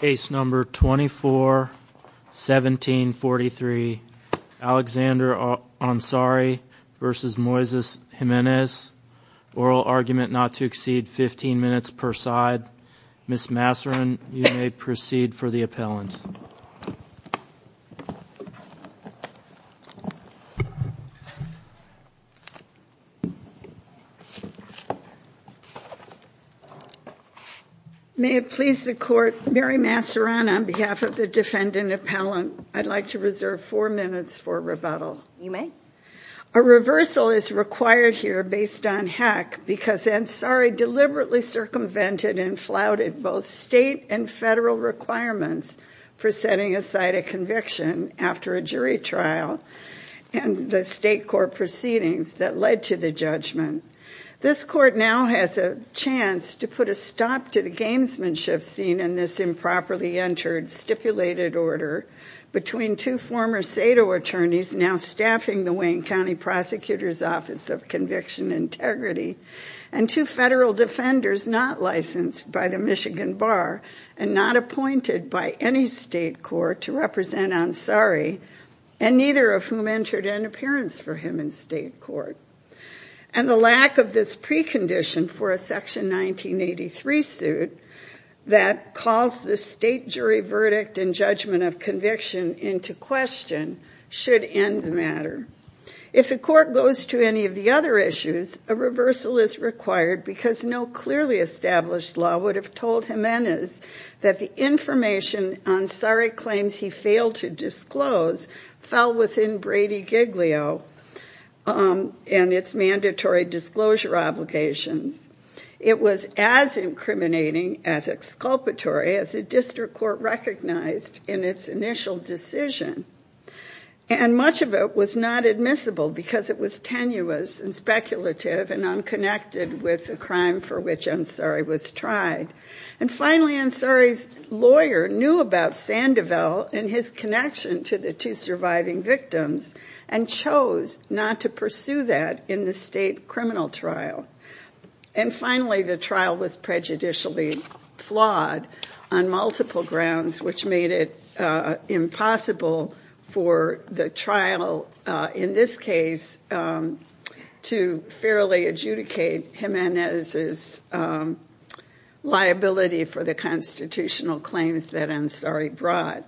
Case number 24-1743. Alexander Ansari v. Moises Jimenez. Oral argument not to exceed 15 minutes per side. Ms. Masseron, you may proceed for the appellant. May it please the court, Mary Masseron on behalf of the defendant appellant, I'd like to reserve four minutes for rebuttal. You may. A reversal is required here based on hack because Ansari deliberately circumvented and flouted both state and federal requirements for setting aside a conviction after a jury trial and the state court proceedings that led to the judgment. This court now has a chance to put a stop to the gamesmanship seen in this improperly entered stipulated order between two former SATO attorneys now staffing the Wayne County Prosecutor's Office of Conviction Integrity and two federal defenders not licensed by the Michigan Bar and not appointed by any state court to represent Ansari and neither of whom entered an appearance for him in state court. And the lack of this precondition for a section 1983 suit that calls the state jury verdict and judgment of conviction into question should end the matter. If the court goes to any of the other issues, a reversal is required because no clearly established law would have told Jimenez that the information Ansari claims he failed to disclose fell within Brady Giglio and its mandatory disclosure obligations. It was as incriminating as exculpatory as the district court recognized in its initial decision. And much of it was not admissible because it was tenuous and speculative and unconnected with the crime for which Ansari was tried. And finally, Ansari's lawyer knew about Sandoval and his connection to the two surviving victims and chose not to pursue that in the state criminal trial. And finally, the trial was prejudicially flawed on multiple grounds, which made it impossible for the trial in this case to fairly adjudicate Jimenez's liability for the constitutional claims that Ansari brought.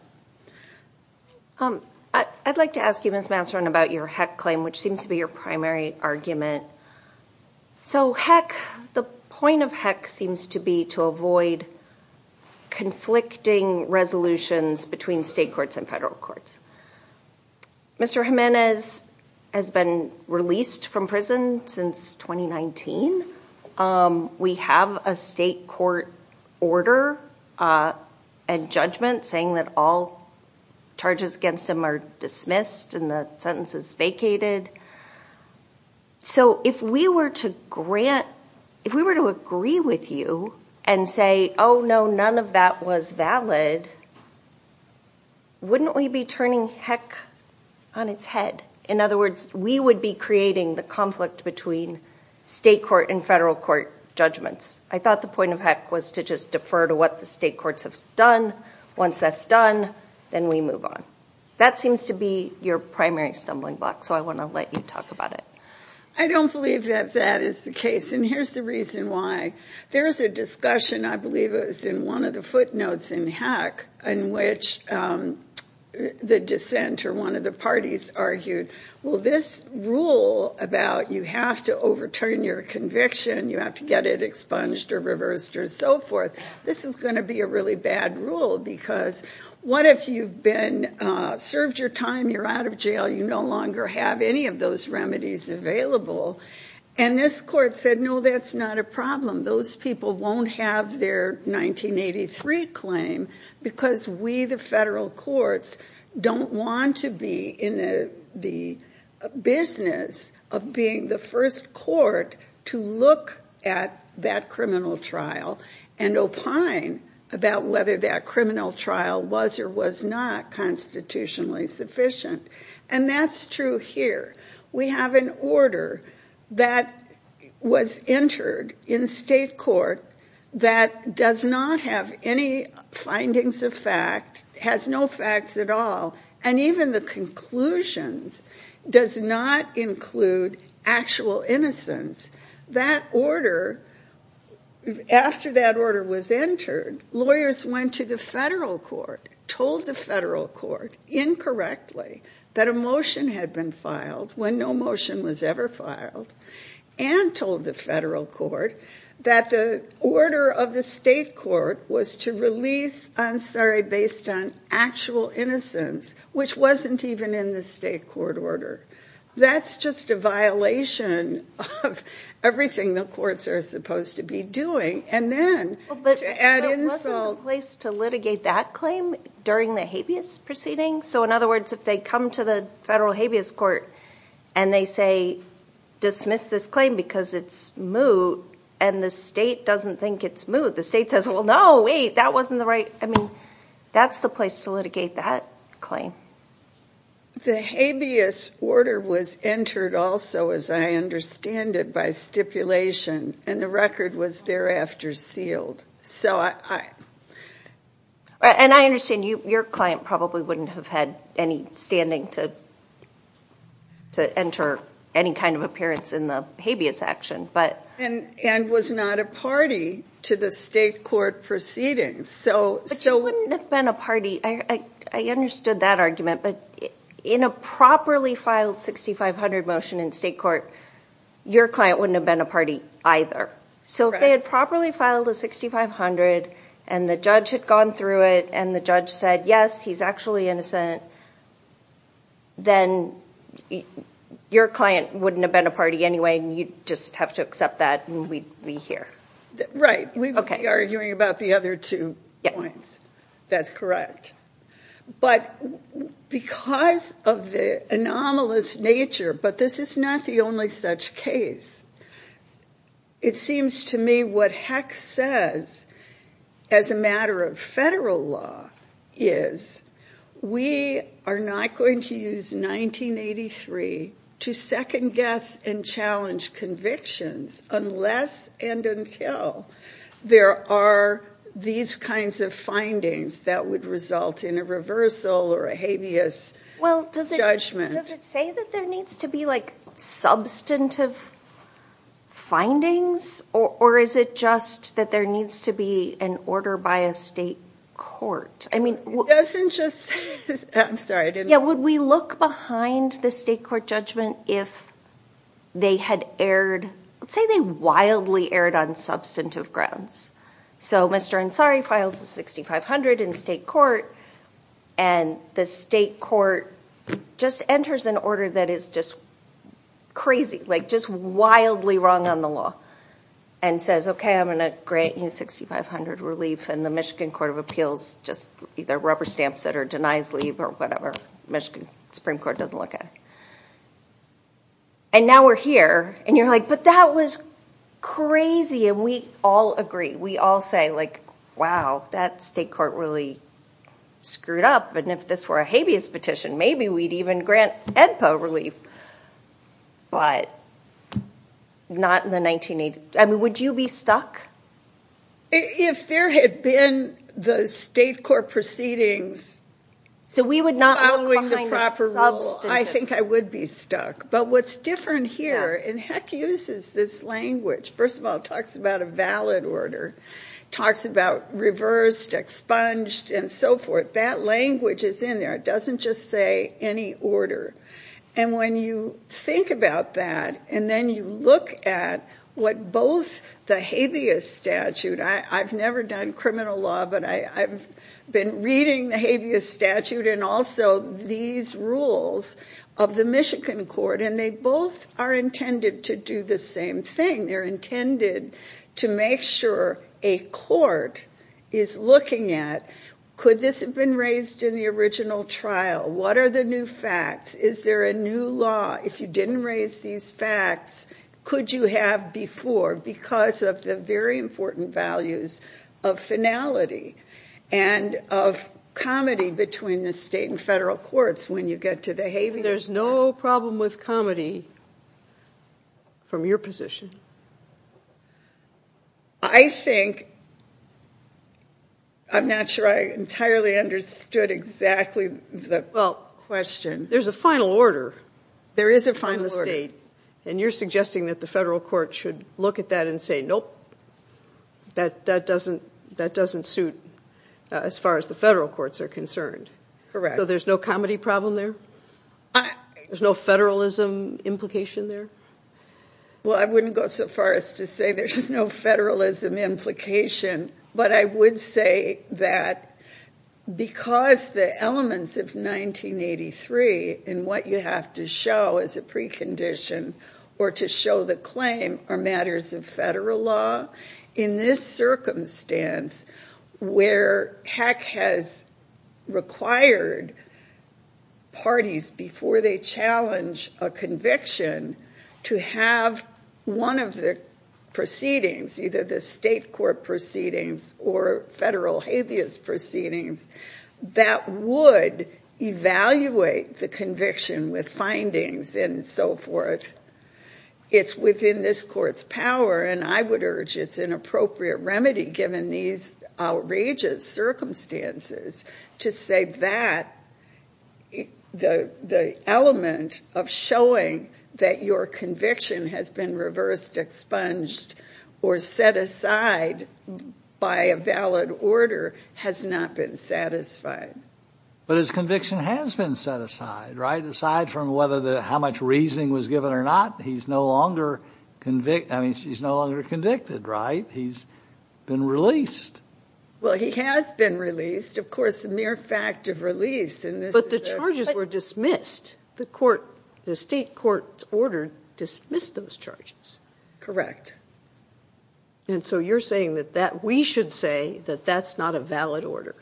I'd like to ask you, Miss Masseron, about your heck claim, which seems to be your primary argument. So, heck, the point of heck seems to be to avoid conflicting resolutions between state courts and federal courts. Mr. Jimenez has been released from prison since 2019. We have a state court order and judgment saying that all charges against him are dismissed and the sentence is vacated. So if we were to grant, if we were to agree with you and say, oh, no, none of that was valid, wouldn't we be turning heck on its head? In other words, we would be creating the conflict between state court and federal court judgments. I thought the point of heck was to just defer to what the state courts have done. Once that's done, then we move on. That seems to be your primary stumbling block. So I want to let you talk about it. I don't believe that that is the case, and here's the reason why. There is a discussion, I believe it was in one of the footnotes in heck, in which the dissent or one of the parties argued, well, this rule about you have to overturn your conviction, you have to get it expunged or reversed or so forth, this is going to be a really bad rule because what if you've been served your time, you're out of jail, you no longer have any of those remedies available? And this court said, no, that's not a problem. Those people won't have their 1983 claim because we, the federal courts, don't want to be in the business of being the first court to look at that criminal trial and opine about whether that criminal trial was or was not constitutionally sufficient. And that's true here. We have an order that was entered in state court that does not have any findings of fact, has no facts at all, and even the conclusions does not include actual innocence. That order, after that order was entered, lawyers went to the federal court, told the federal court incorrectly that a motion had been filed when no motion was ever filed, and told the federal court that the order of the state court was to release, I'm sorry, based on actual innocence, which wasn't even in the state court order. That's just a violation of everything the courts are supposed to be doing. But wasn't the place to litigate that claim during the habeas proceeding? So in other words, if they come to the federal habeas court and they say, dismiss this claim because it's moot, and the state doesn't think it's moot, the state says, well, no, wait, that wasn't the right, I mean, that's the place to litigate that claim. The habeas order was entered also, as I understand it, by stipulation, and the record was thereafter sealed. And I understand your client probably wouldn't have had any standing to enter any kind of appearance in the habeas action. And was not a party to the state court proceedings. But you wouldn't have been a party, I understood that argument, but in a properly filed 6500 motion in state court, your client wouldn't have been a party either. So if they had properly filed a 6500, and the judge had gone through it, and the judge said, yes, he's actually innocent, then your client wouldn't have been a party anyway, and you'd just have to accept that and we'd be here. Right, we would be arguing about the other two points. That's correct. But because of the anomalous nature, but this is not the only such case, it seems to me what Hecks says, as a matter of federal law, is we are not going to use 1983 to second guess and challenge convictions unless and until there are these kinds of findings that would result in a reversal or a habeas judgment. Well, does it say that there needs to be substantive findings? Or is it just that there needs to be an order by a state court? It doesn't just say that. I'm sorry, I didn't- Yeah, would we look behind the state court judgment if they had erred? Let's say they wildly erred on substantive grounds. So Mr. Ansari files a 6500 in state court, and the state court just enters an order that is just crazy, like just wildly wrong on the law, and says, okay, I'm going to grant you 6500 relief, and the Michigan Court of Appeals just either rubber stamps it or denies leave or whatever. Michigan Supreme Court doesn't look at it. And now we're here, and you're like, but that was crazy, and we all agree. We all say, like, wow, that state court really screwed up, and if this were a habeas petition, maybe we'd even grant EDPA relief. But not in the 1980s. I mean, would you be stuck? If there had been the state court proceedings following the proper rule, I think I would be stuck. But what's different here, and Heck uses this language. First of all, it talks about a valid order. It talks about reversed, expunged, and so forth. That language is in there. It doesn't just say any order. And when you think about that, and then you look at what both the habeas statute, I've never done criminal law, but I've been reading the habeas statute and also these rules of the Michigan court, and they both are intended to do the same thing. They're intended to make sure a court is looking at, could this have been raised in the original trial? What are the new facts? Is there a new law? If you didn't raise these facts, could you have before, because of the very important values of finality and of comedy between the state and federal courts when you get to the habeas? There's no problem with comedy from your position. I think, I'm not sure I entirely understood exactly the question. There's a final order. There is a final order. And you're suggesting that the federal court should look at that and say, nope, that doesn't suit as far as the federal courts are concerned. Correct. So there's no comedy problem there? There's no federalism implication there? Well, I wouldn't go so far as to say there's no federalism implication, but I would say that because the elements of 1983 and what you have to show as a precondition or to show the claim are matters of federal law, in this circumstance where HECC has required parties before they challenge a conviction to have one of the proceedings, either the state court proceedings or federal habeas proceedings, that would evaluate the conviction with findings and so forth. It's within this court's power, and I would urge it's an appropriate remedy given these outrageous circumstances to say that the element of showing that your conviction has been reversed, expunged, or set aside by a valid order has not been satisfied. But his conviction has been set aside, right? Aside from how much reasoning was given or not, he's no longer convicted, right? He's been released. Well, he has been released. Of course, the mere fact of release. But the charges were dismissed. The state court's order dismissed those charges. Correct. And so you're saying that we should say that that's not a valid order.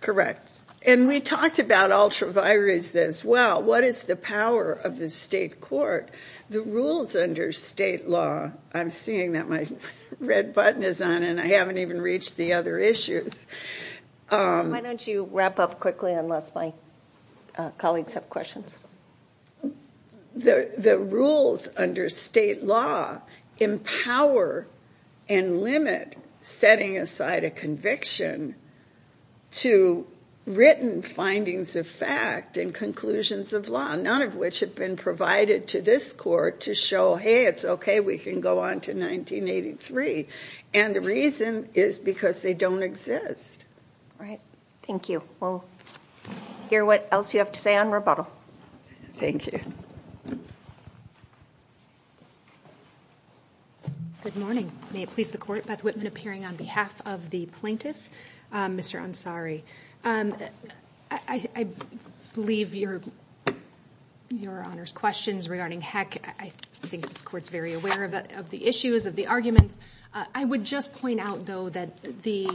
Correct. And we talked about ultraviolence as well. What is the power of the state court, the rules under state law? I'm seeing that my red button is on, and I haven't even reached the other issues. Why don't you wrap up quickly unless my colleagues have questions? The rules under state law empower and limit setting aside a conviction to written findings of fact and conclusions of law, none of which have been provided to this court to show, hey, it's okay, we can go on to 1983. And the reason is because they don't exist. All right. Thank you. We'll hear what else you have to say on rebuttal. Thank you. Good morning. May it please the Court, Beth Whitman appearing on behalf of the plaintiff, Mr. Ansari. I believe your Honor's questions regarding Heck, I think this Court's very aware of the issues, of the arguments. I would just point out, though, that the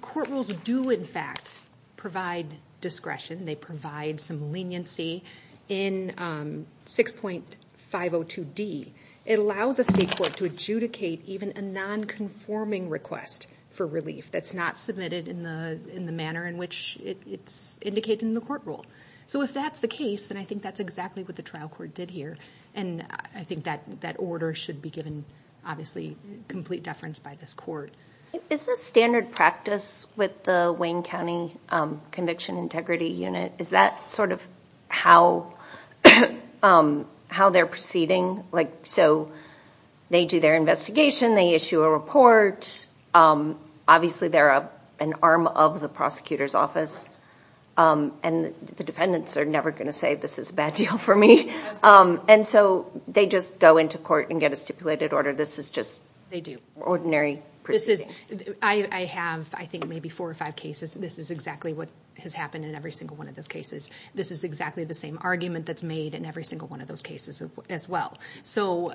court rules do, in fact, provide discretion. They provide some leniency in 6.502D. It allows a state court to adjudicate even a nonconforming request for relief that's not submitted in the manner in which it's indicated in the court rule. So if that's the case, then I think that's exactly what the trial court did here. And I think that order should be given, obviously, complete deference by this court. Is this standard practice with the Wayne County Conviction Integrity Unit? Is that sort of how they're proceeding? Like, so they do their investigation, they issue a report. Obviously, they're an arm of the prosecutor's office, and the defendants are never going to say, this is a bad deal for me. And so they just go into court and get a stipulated order. This is just ordinary proceedings. I have, I think, maybe four or five cases. This is exactly what has happened in every single one of those cases. This is exactly the same argument that's made in every single one of those cases as well. So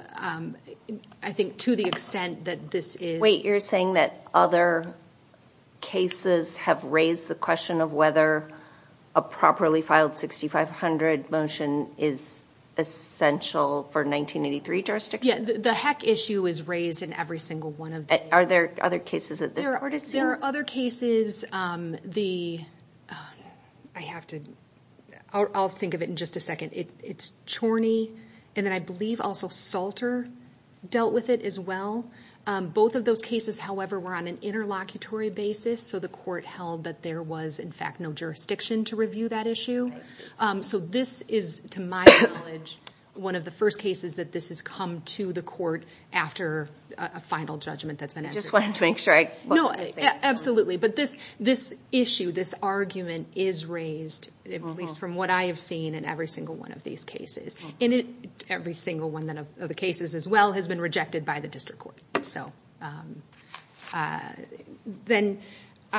I think to the extent that this is – Wait, you're saying that other cases have raised the question of whether a properly filed 6500 motion is essential for 1983 jurisdiction? Yeah, the heck issue is raised in every single one of them. Are there other cases that this court has seen? There are other cases. I have to – I'll think of it in just a second. It's Chorney, and then I believe also Salter dealt with it as well. Both of those cases, however, were on an interlocutory basis, so the court held that there was, in fact, no jurisdiction to review that issue. So this is, to my knowledge, one of the first cases that this has come to the court after a final judgment that's been answered. I just wanted to make sure I – No, absolutely. But this issue, this argument is raised, at least from what I have seen, in every single one of these cases. And every single one of the cases as well has been rejected by the district court. So then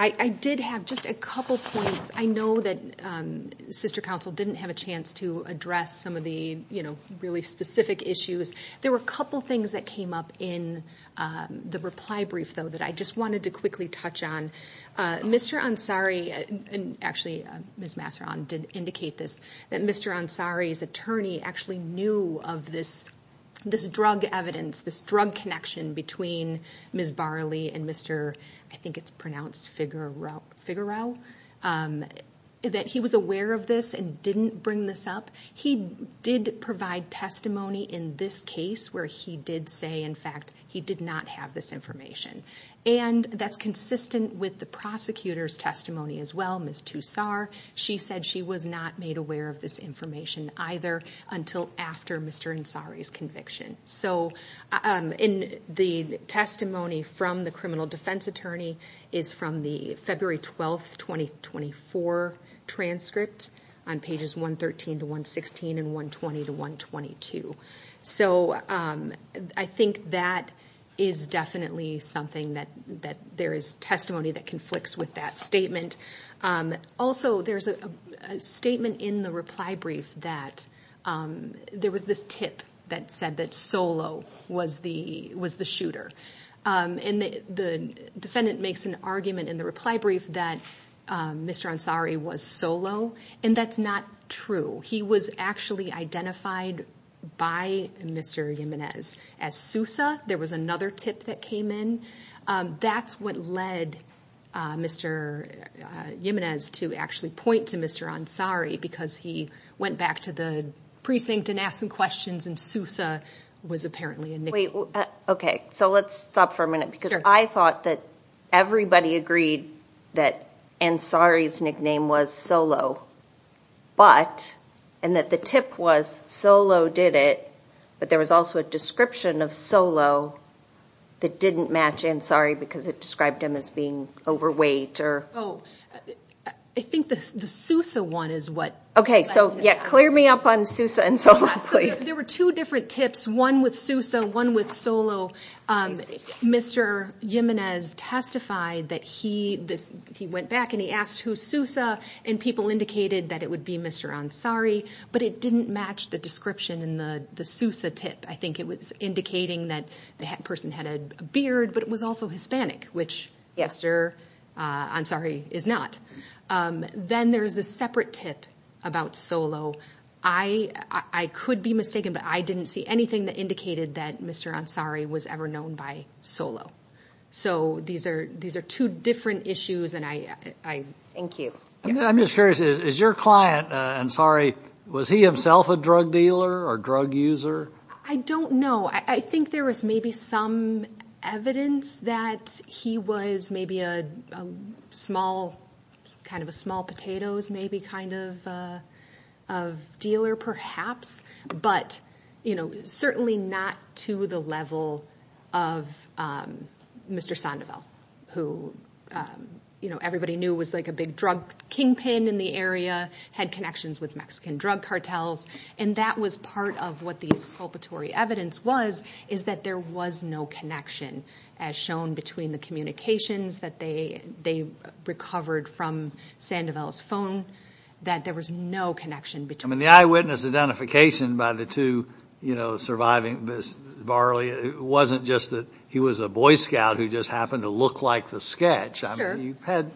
I did have just a couple points. I know that sister counsel didn't have a chance to address some of the really specific issues. There were a couple things that came up in the reply brief, though, that I just wanted to quickly touch on. Mr. Ansari – actually, Ms. Masseron did indicate this – that Mr. Ansari's attorney actually knew of this drug evidence, this drug connection between Ms. Barley and Mr. – I think it's pronounced Figueroa – that he was aware of this and didn't bring this up. He did provide testimony in this case where he did say, in fact, he did not have this information. And that's consistent with the prosecutor's testimony as well, Ms. Toussart. She said she was not made aware of this information either until after Mr. Ansari's conviction. So the testimony from the criminal defense attorney is from the February 12, 2024, transcript on pages 113 to 116 and 120 to 122. So I think that is definitely something that there is testimony that conflicts with that statement. Also, there's a statement in the reply brief that there was this tip that said that Solo was the shooter. And the defendant makes an argument in the reply brief that Mr. Ansari was Solo, and that's not true. He was actually identified by Mr. Jimenez as Sousa. There was another tip that came in. That's what led Mr. Jimenez to actually point to Mr. Ansari because he went back to the precinct and asked some questions, and Sousa was apparently a nickname. Okay, so let's stop for a minute because I thought that everybody agreed that Ansari's nickname was Solo, and that the tip was Solo did it, but there was also a description of Solo that didn't match Ansari because it described him as being overweight. Oh, I think the Sousa one is what led to that. Okay, so clear me up on Sousa and Solo, please. There were two different tips, one with Sousa, one with Solo. Mr. Jimenez testified that he went back and he asked who Sousa, and people indicated that it would be Mr. Ansari, but it didn't match the description in the Sousa tip. I think it was indicating that the person had a beard, but it was also Hispanic, which Mr. Ansari is not. Then there's the separate tip about Solo. I could be mistaken, but I didn't see anything that indicated that Mr. Ansari was ever known by Solo. So these are two different issues. Thank you. I'm just curious. Is your client, Ansari, was he himself a drug dealer or drug user? I don't know. I think there was maybe some evidence that he was maybe kind of a small potatoes maybe kind of dealer perhaps, but certainly not to the level of Mr. Sandoval, who everybody knew was like a big drug kingpin in the area, had connections with Mexican drug cartels. That was part of what the exculpatory evidence was is that there was no connection as shown between the communications that they recovered from Sandoval's phone, that there was no connection between them. The eyewitness identification by the two surviving Barley wasn't just that he was a Boy Scout who just happened to look like the sketch. Sure. He had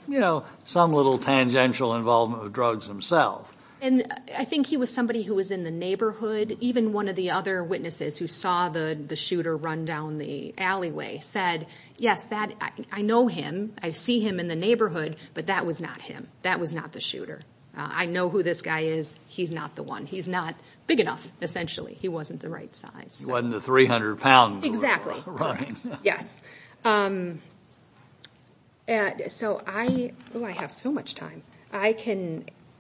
some little tangential involvement with drugs himself. And I think he was somebody who was in the neighborhood. Even one of the other witnesses who saw the shooter run down the alleyway said, yes, I know him, I see him in the neighborhood, but that was not him. That was not the shooter. I know who this guy is. He's not the one. He's not big enough, essentially. He wasn't the right size. He wasn't the 300-pound running. Yes. So I have so much time.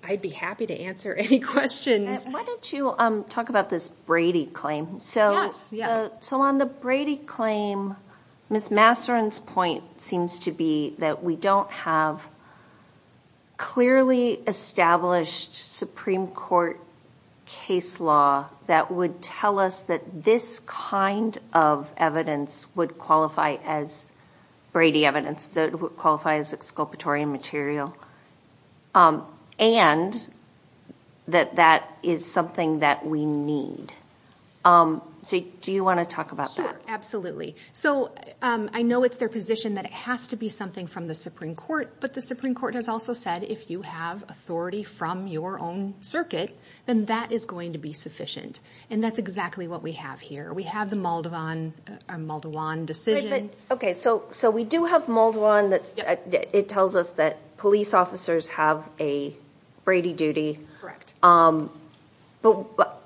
I'd be happy to answer any questions. Why don't you talk about this Brady claim? Yes. So on the Brady claim, Ms. Masseron's point seems to be that we don't have clearly established Supreme Court case law that would tell us that this kind of evidence would qualify as Brady evidence, that it would qualify as exculpatory material, and that that is something that we need. So do you want to talk about that? Sure, absolutely. So I know it's their position that it has to be something from the Supreme Court, but the Supreme Court has also said if you have authority from your own circuit, then that is going to be sufficient, and that's exactly what we have here. We have the Maldwan decision. Okay, so we do have Maldwan. It tells us that police officers have a Brady duty. But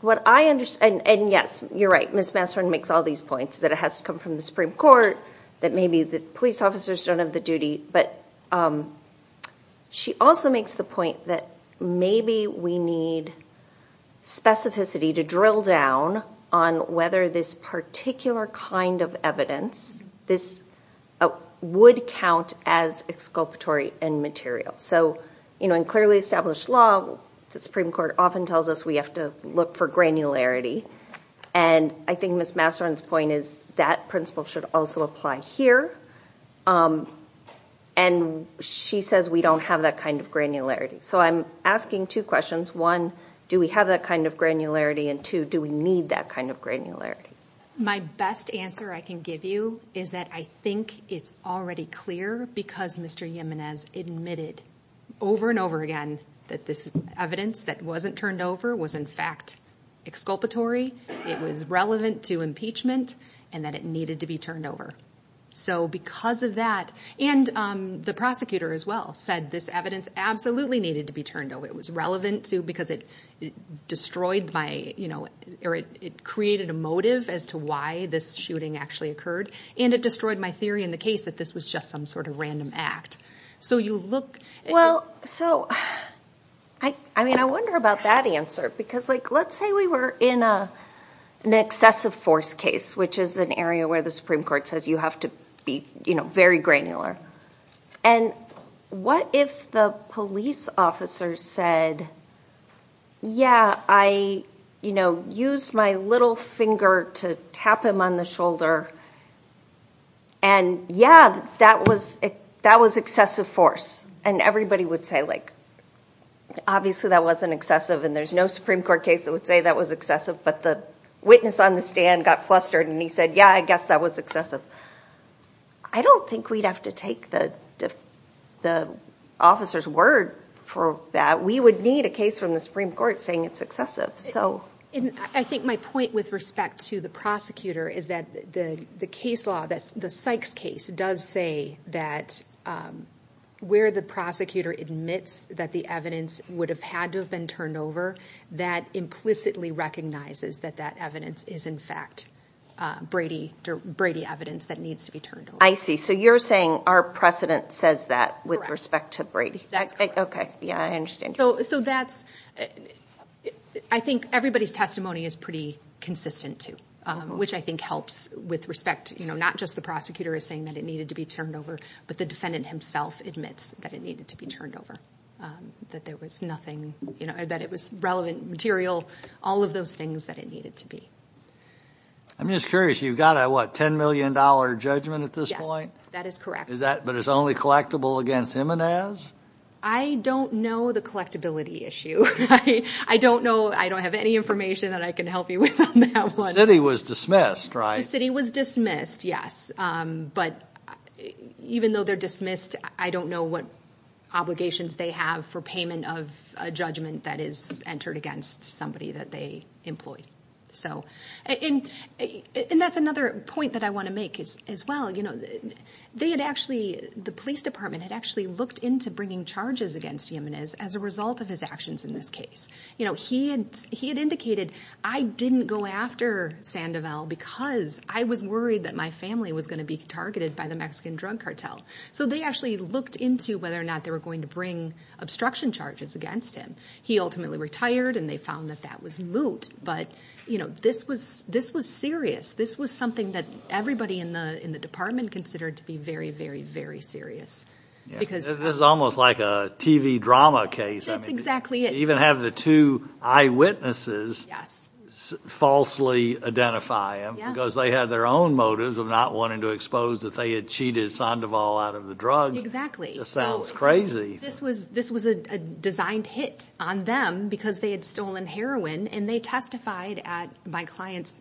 what I understand, and yes, you're right, Ms. Masseron makes all these points, that it has to come from the Supreme Court, that maybe the police officers don't have the duty, but she also makes the point that maybe we need specificity to drill down on whether this particular kind of evidence, this would count as exculpatory in material. So in clearly established law, the Supreme Court often tells us we have to look for granularity, and I think Ms. Masseron's point is that principle should also apply here. And she says we don't have that kind of granularity. So I'm asking two questions. One, do we have that kind of granularity? And two, do we need that kind of granularity? My best answer I can give you is that I think it's already clear because Mr. Jimenez admitted over and over again that this evidence that wasn't turned over was in fact exculpatory, it was relevant to impeachment, and that it needed to be turned over. So because of that, and the prosecutor as well said this evidence absolutely needed to be turned over. It was relevant because it destroyed my, or it created a motive as to why this shooting actually occurred, and it destroyed my theory in the case that this was just some sort of random act. So you look at- Well, so, I mean, I wonder about that answer, because let's say we were in an excessive force case, which is an area where the Supreme Court says you have to be very granular. And what if the police officer said, yeah, I used my little finger to tap him on the shoulder, and yeah, that was excessive force. And everybody would say, like, obviously that wasn't excessive, and there's no Supreme Court case that would say that was excessive, but the witness on the stand got flustered and he said, yeah, I guess that was excessive. I don't think we'd have to take the officer's word for that. We would need a case from the Supreme Court saying it's excessive. And I think my point with respect to the prosecutor is that the case law, the Sykes case, does say that where the prosecutor admits that the evidence would have had to have been turned over, that implicitly recognizes that that evidence is, in fact, Brady evidence that needs to be turned over. I see. So you're saying our precedent says that with respect to Brady. That's correct. Okay. Yeah, I understand. So that's-I think everybody's testimony is pretty consistent, too, which I think helps with respect. You know, not just the prosecutor is saying that it needed to be turned over, but the defendant himself admits that it needed to be turned over, that there was nothing-that it was relevant material, all of those things that it needed to be. I'm just curious. You've got a, what, $10 million judgment at this point? Yes, that is correct. But it's only collectible against him and as? I don't know the collectibility issue. I don't know. I don't have any information that I can help you with on that one. The city was dismissed, right? The city was dismissed, yes. But even though they're dismissed, I don't know what obligations they have for payment of a judgment that is entered against somebody that they employ. And that's another point that I want to make as well. You know, they had actually-the police department had actually looked into bringing charges against Jimenez as a result of his actions in this case. You know, he had indicated, I didn't go after Sandoval because I was worried that my family was going to be targeted by the Mexican drug cartel. So they actually looked into whether or not they were going to bring obstruction charges against him. He ultimately retired and they found that that was moot. But, you know, this was serious. This was something that everybody in the department considered to be very, very, very serious. This is almost like a TV drama case. That's exactly it. They even have the two eyewitnesses falsely identify him because they had their own motives of not wanting to expose that they had cheated Sandoval out of the drugs. Exactly. This sounds crazy. This was a designed hit on them because they had stolen heroin and they testified at my client's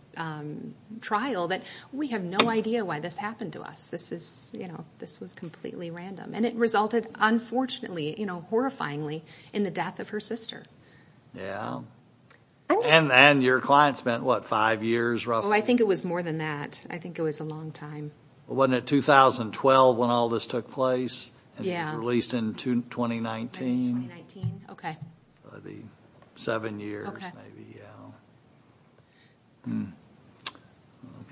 trial that we have no idea why this happened to us. This is, you know, this was completely random. And it resulted, unfortunately, you know, horrifyingly, in the death of her sister. And your client spent, what, five years roughly? Oh, I think it was more than that. I think it was a long time. Wasn't it 2012 when all this took place? Yeah. Released in 2019. 2019, okay. Seven years maybe, yeah.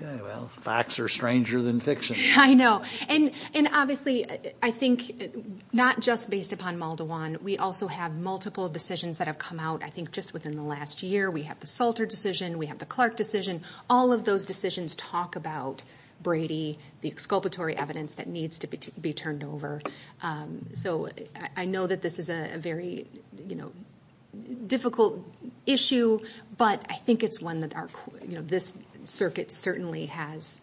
Okay, well, facts are stranger than fiction. I know. And obviously, I think, not just based upon Maldwan, we also have multiple decisions that have come out, I think, just within the last year. We have the Salter decision. We have the Clark decision. All of those decisions talk about Brady, the exculpatory evidence that needs to be turned over. So I know that this is a very, you know, difficult issue, but I think it's one that, you know, this circuit certainly has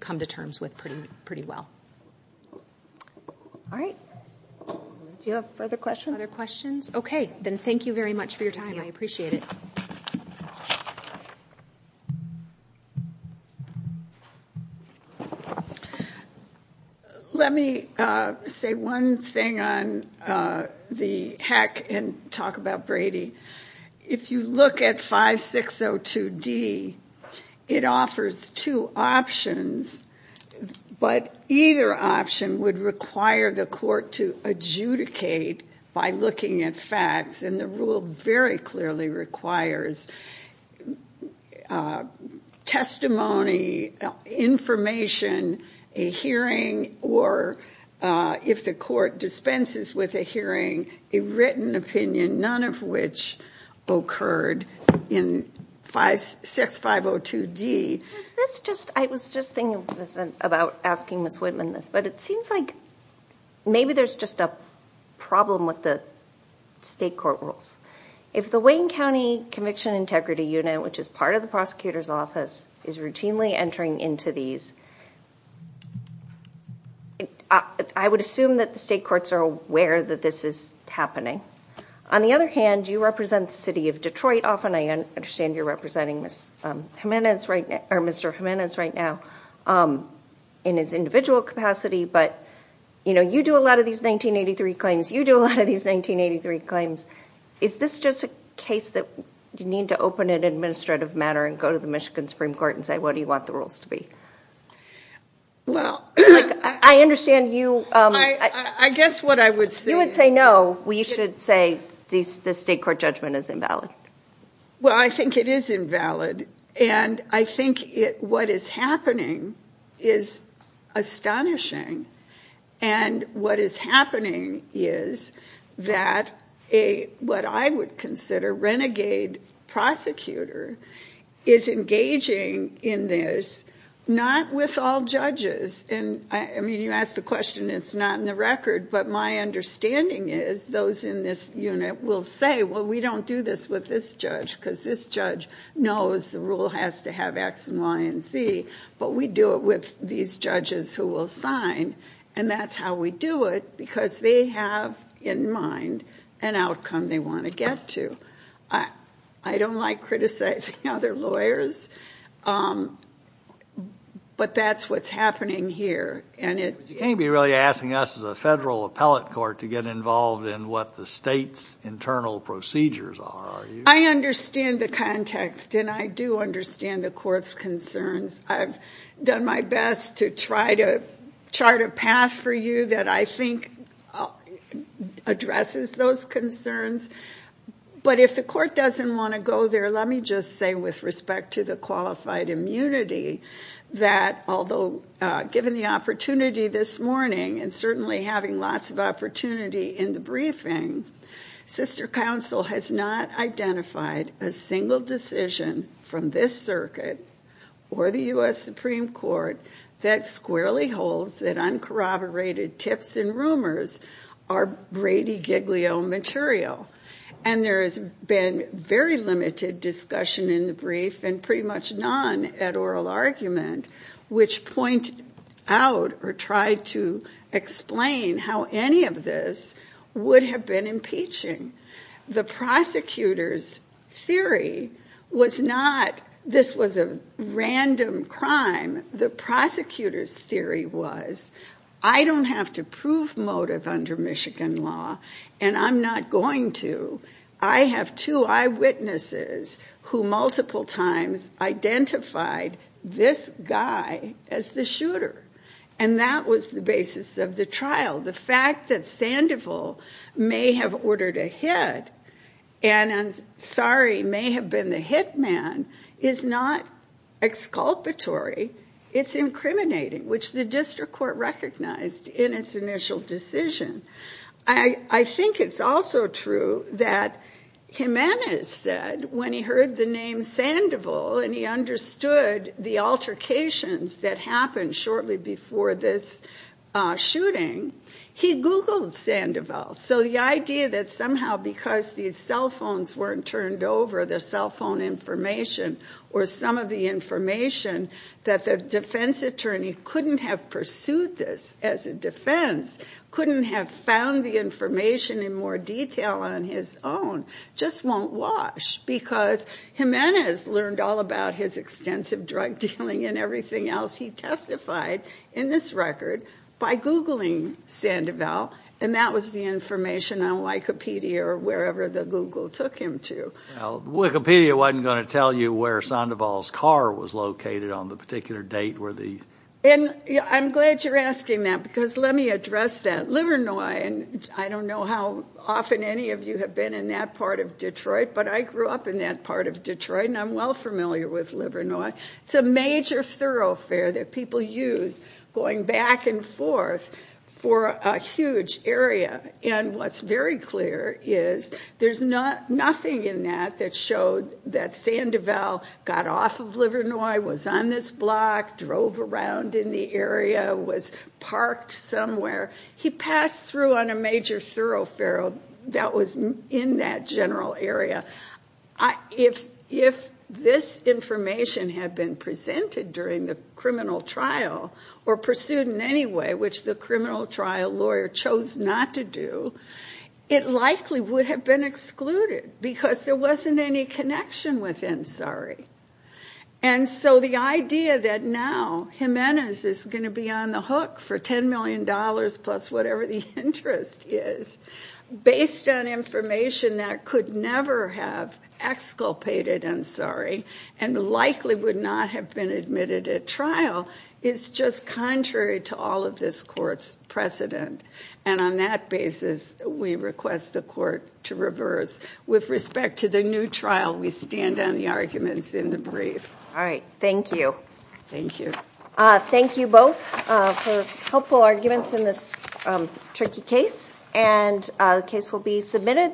come to terms with pretty well. All right. Do you have further questions? Other questions? Okay, then thank you very much for your time. I appreciate it. Let me say one thing on the hack and talk about Brady. If you look at 5602D, it offers two options, but either option would require the court to adjudicate by looking at facts, and the rule very clearly requires testimony, information, a hearing, or if the court dispenses with a hearing, a written opinion, none of which occurred in 6502D. I was just thinking about asking Ms. Whitman this, but it seems like maybe there's just a problem with the state court rules. If the Wayne County Conviction Integrity Unit, which is part of the prosecutor's office, is routinely entering into these, I would assume that the state courts are aware that this is happening. On the other hand, you represent the city of Detroit often. I understand you're representing Mr. Jimenez right now in his individual capacity, but, you know, you do a lot of these 1983 claims. You do a lot of these 1983 claims. Is this just a case that you need to open in an administrative manner and go to the Michigan Supreme Court and say, what do you want the rules to be? I understand you— I guess what I would say— You would say, no, we should say the state court judgment is invalid. Well, I think it is invalid, and I think what is happening is astonishing, and what is happening is that what I would consider a renegade prosecutor is engaging in this not with all judges. I mean, you asked the question, it's not in the record, but my understanding is those in this unit will say, well, we don't do this with this judge because this judge knows the rule has to have X and Y and Z, but we do it with these judges who will sign, and that's how we do it because they have in mind an outcome they want to get to. I don't like criticizing other lawyers, but that's what's happening here. You can't be really asking us as a federal appellate court to get involved in what the state's internal procedures are, are you? I understand the context, and I do understand the court's concerns. I've done my best to try to chart a path for you that I think addresses those concerns, but if the court doesn't want to go there, let me just say with respect to the qualified immunity that although given the opportunity this morning and certainly having lots of opportunity in the briefing, sister counsel has not identified a single decision from this circuit or the U.S. Supreme Court that squarely holds that uncorroborated tips and rumors are Brady Giglio material, and there has been very limited discussion in the brief and pretty much none at oral argument which point out or try to explain how any of this would have been impeaching. The prosecutor's theory was not this was a random crime. The prosecutor's theory was I don't have to prove motive under Michigan law, and I'm not going to. I have two eyewitnesses who multiple times identified this guy as the shooter, and that was the basis of the trial. The fact that Sandoval may have ordered a hit and Ansari may have been the hit man is not exculpatory. It's incriminating, which the district court recognized in its initial decision. I think it's also true that Jimenez said when he heard the name Sandoval and he understood the altercations that happened shortly before this shooting, he Googled Sandoval. So the idea that somehow because these cell phones weren't turned over, the cell phone information or some of the information, that the defense attorney couldn't have pursued this as a defense, couldn't have found the information in more detail on his own, just won't wash because Jimenez learned all about his extensive drug dealing and everything else he testified in this record by Googling Sandoval, and that was the information on Wikipedia or wherever the Google took him to. Wikipedia wasn't going to tell you where Sandoval's car was located on the particular date. I'm glad you're asking that because let me address that. Livernois, and I don't know how often any of you have been in that part of Detroit, but I grew up in that part of Detroit, and I'm well familiar with Livernois. It's a major thoroughfare that people use going back and forth for a huge area, and what's very clear is there's nothing in that that showed that Sandoval got off of Livernois, was on this block, drove around in the area, was parked somewhere. He passed through on a major thoroughfare that was in that general area. If this information had been presented during the criminal trial or pursued in any way, which the criminal trial lawyer chose not to do, it likely would have been excluded because there wasn't any connection with Ansari. And so the idea that now Jimenez is going to be on the hook for $10 million plus whatever the interest is, based on information that could never have exculpated Ansari and likely would not have been admitted at trial is just contrary to all of this court's precedent. And on that basis, we request the court to reverse. With respect to the new trial, we stand on the arguments in the brief. All right. Thank you. Thank you. Thank you both for helpful arguments in this tricky case, and the case will be submitted.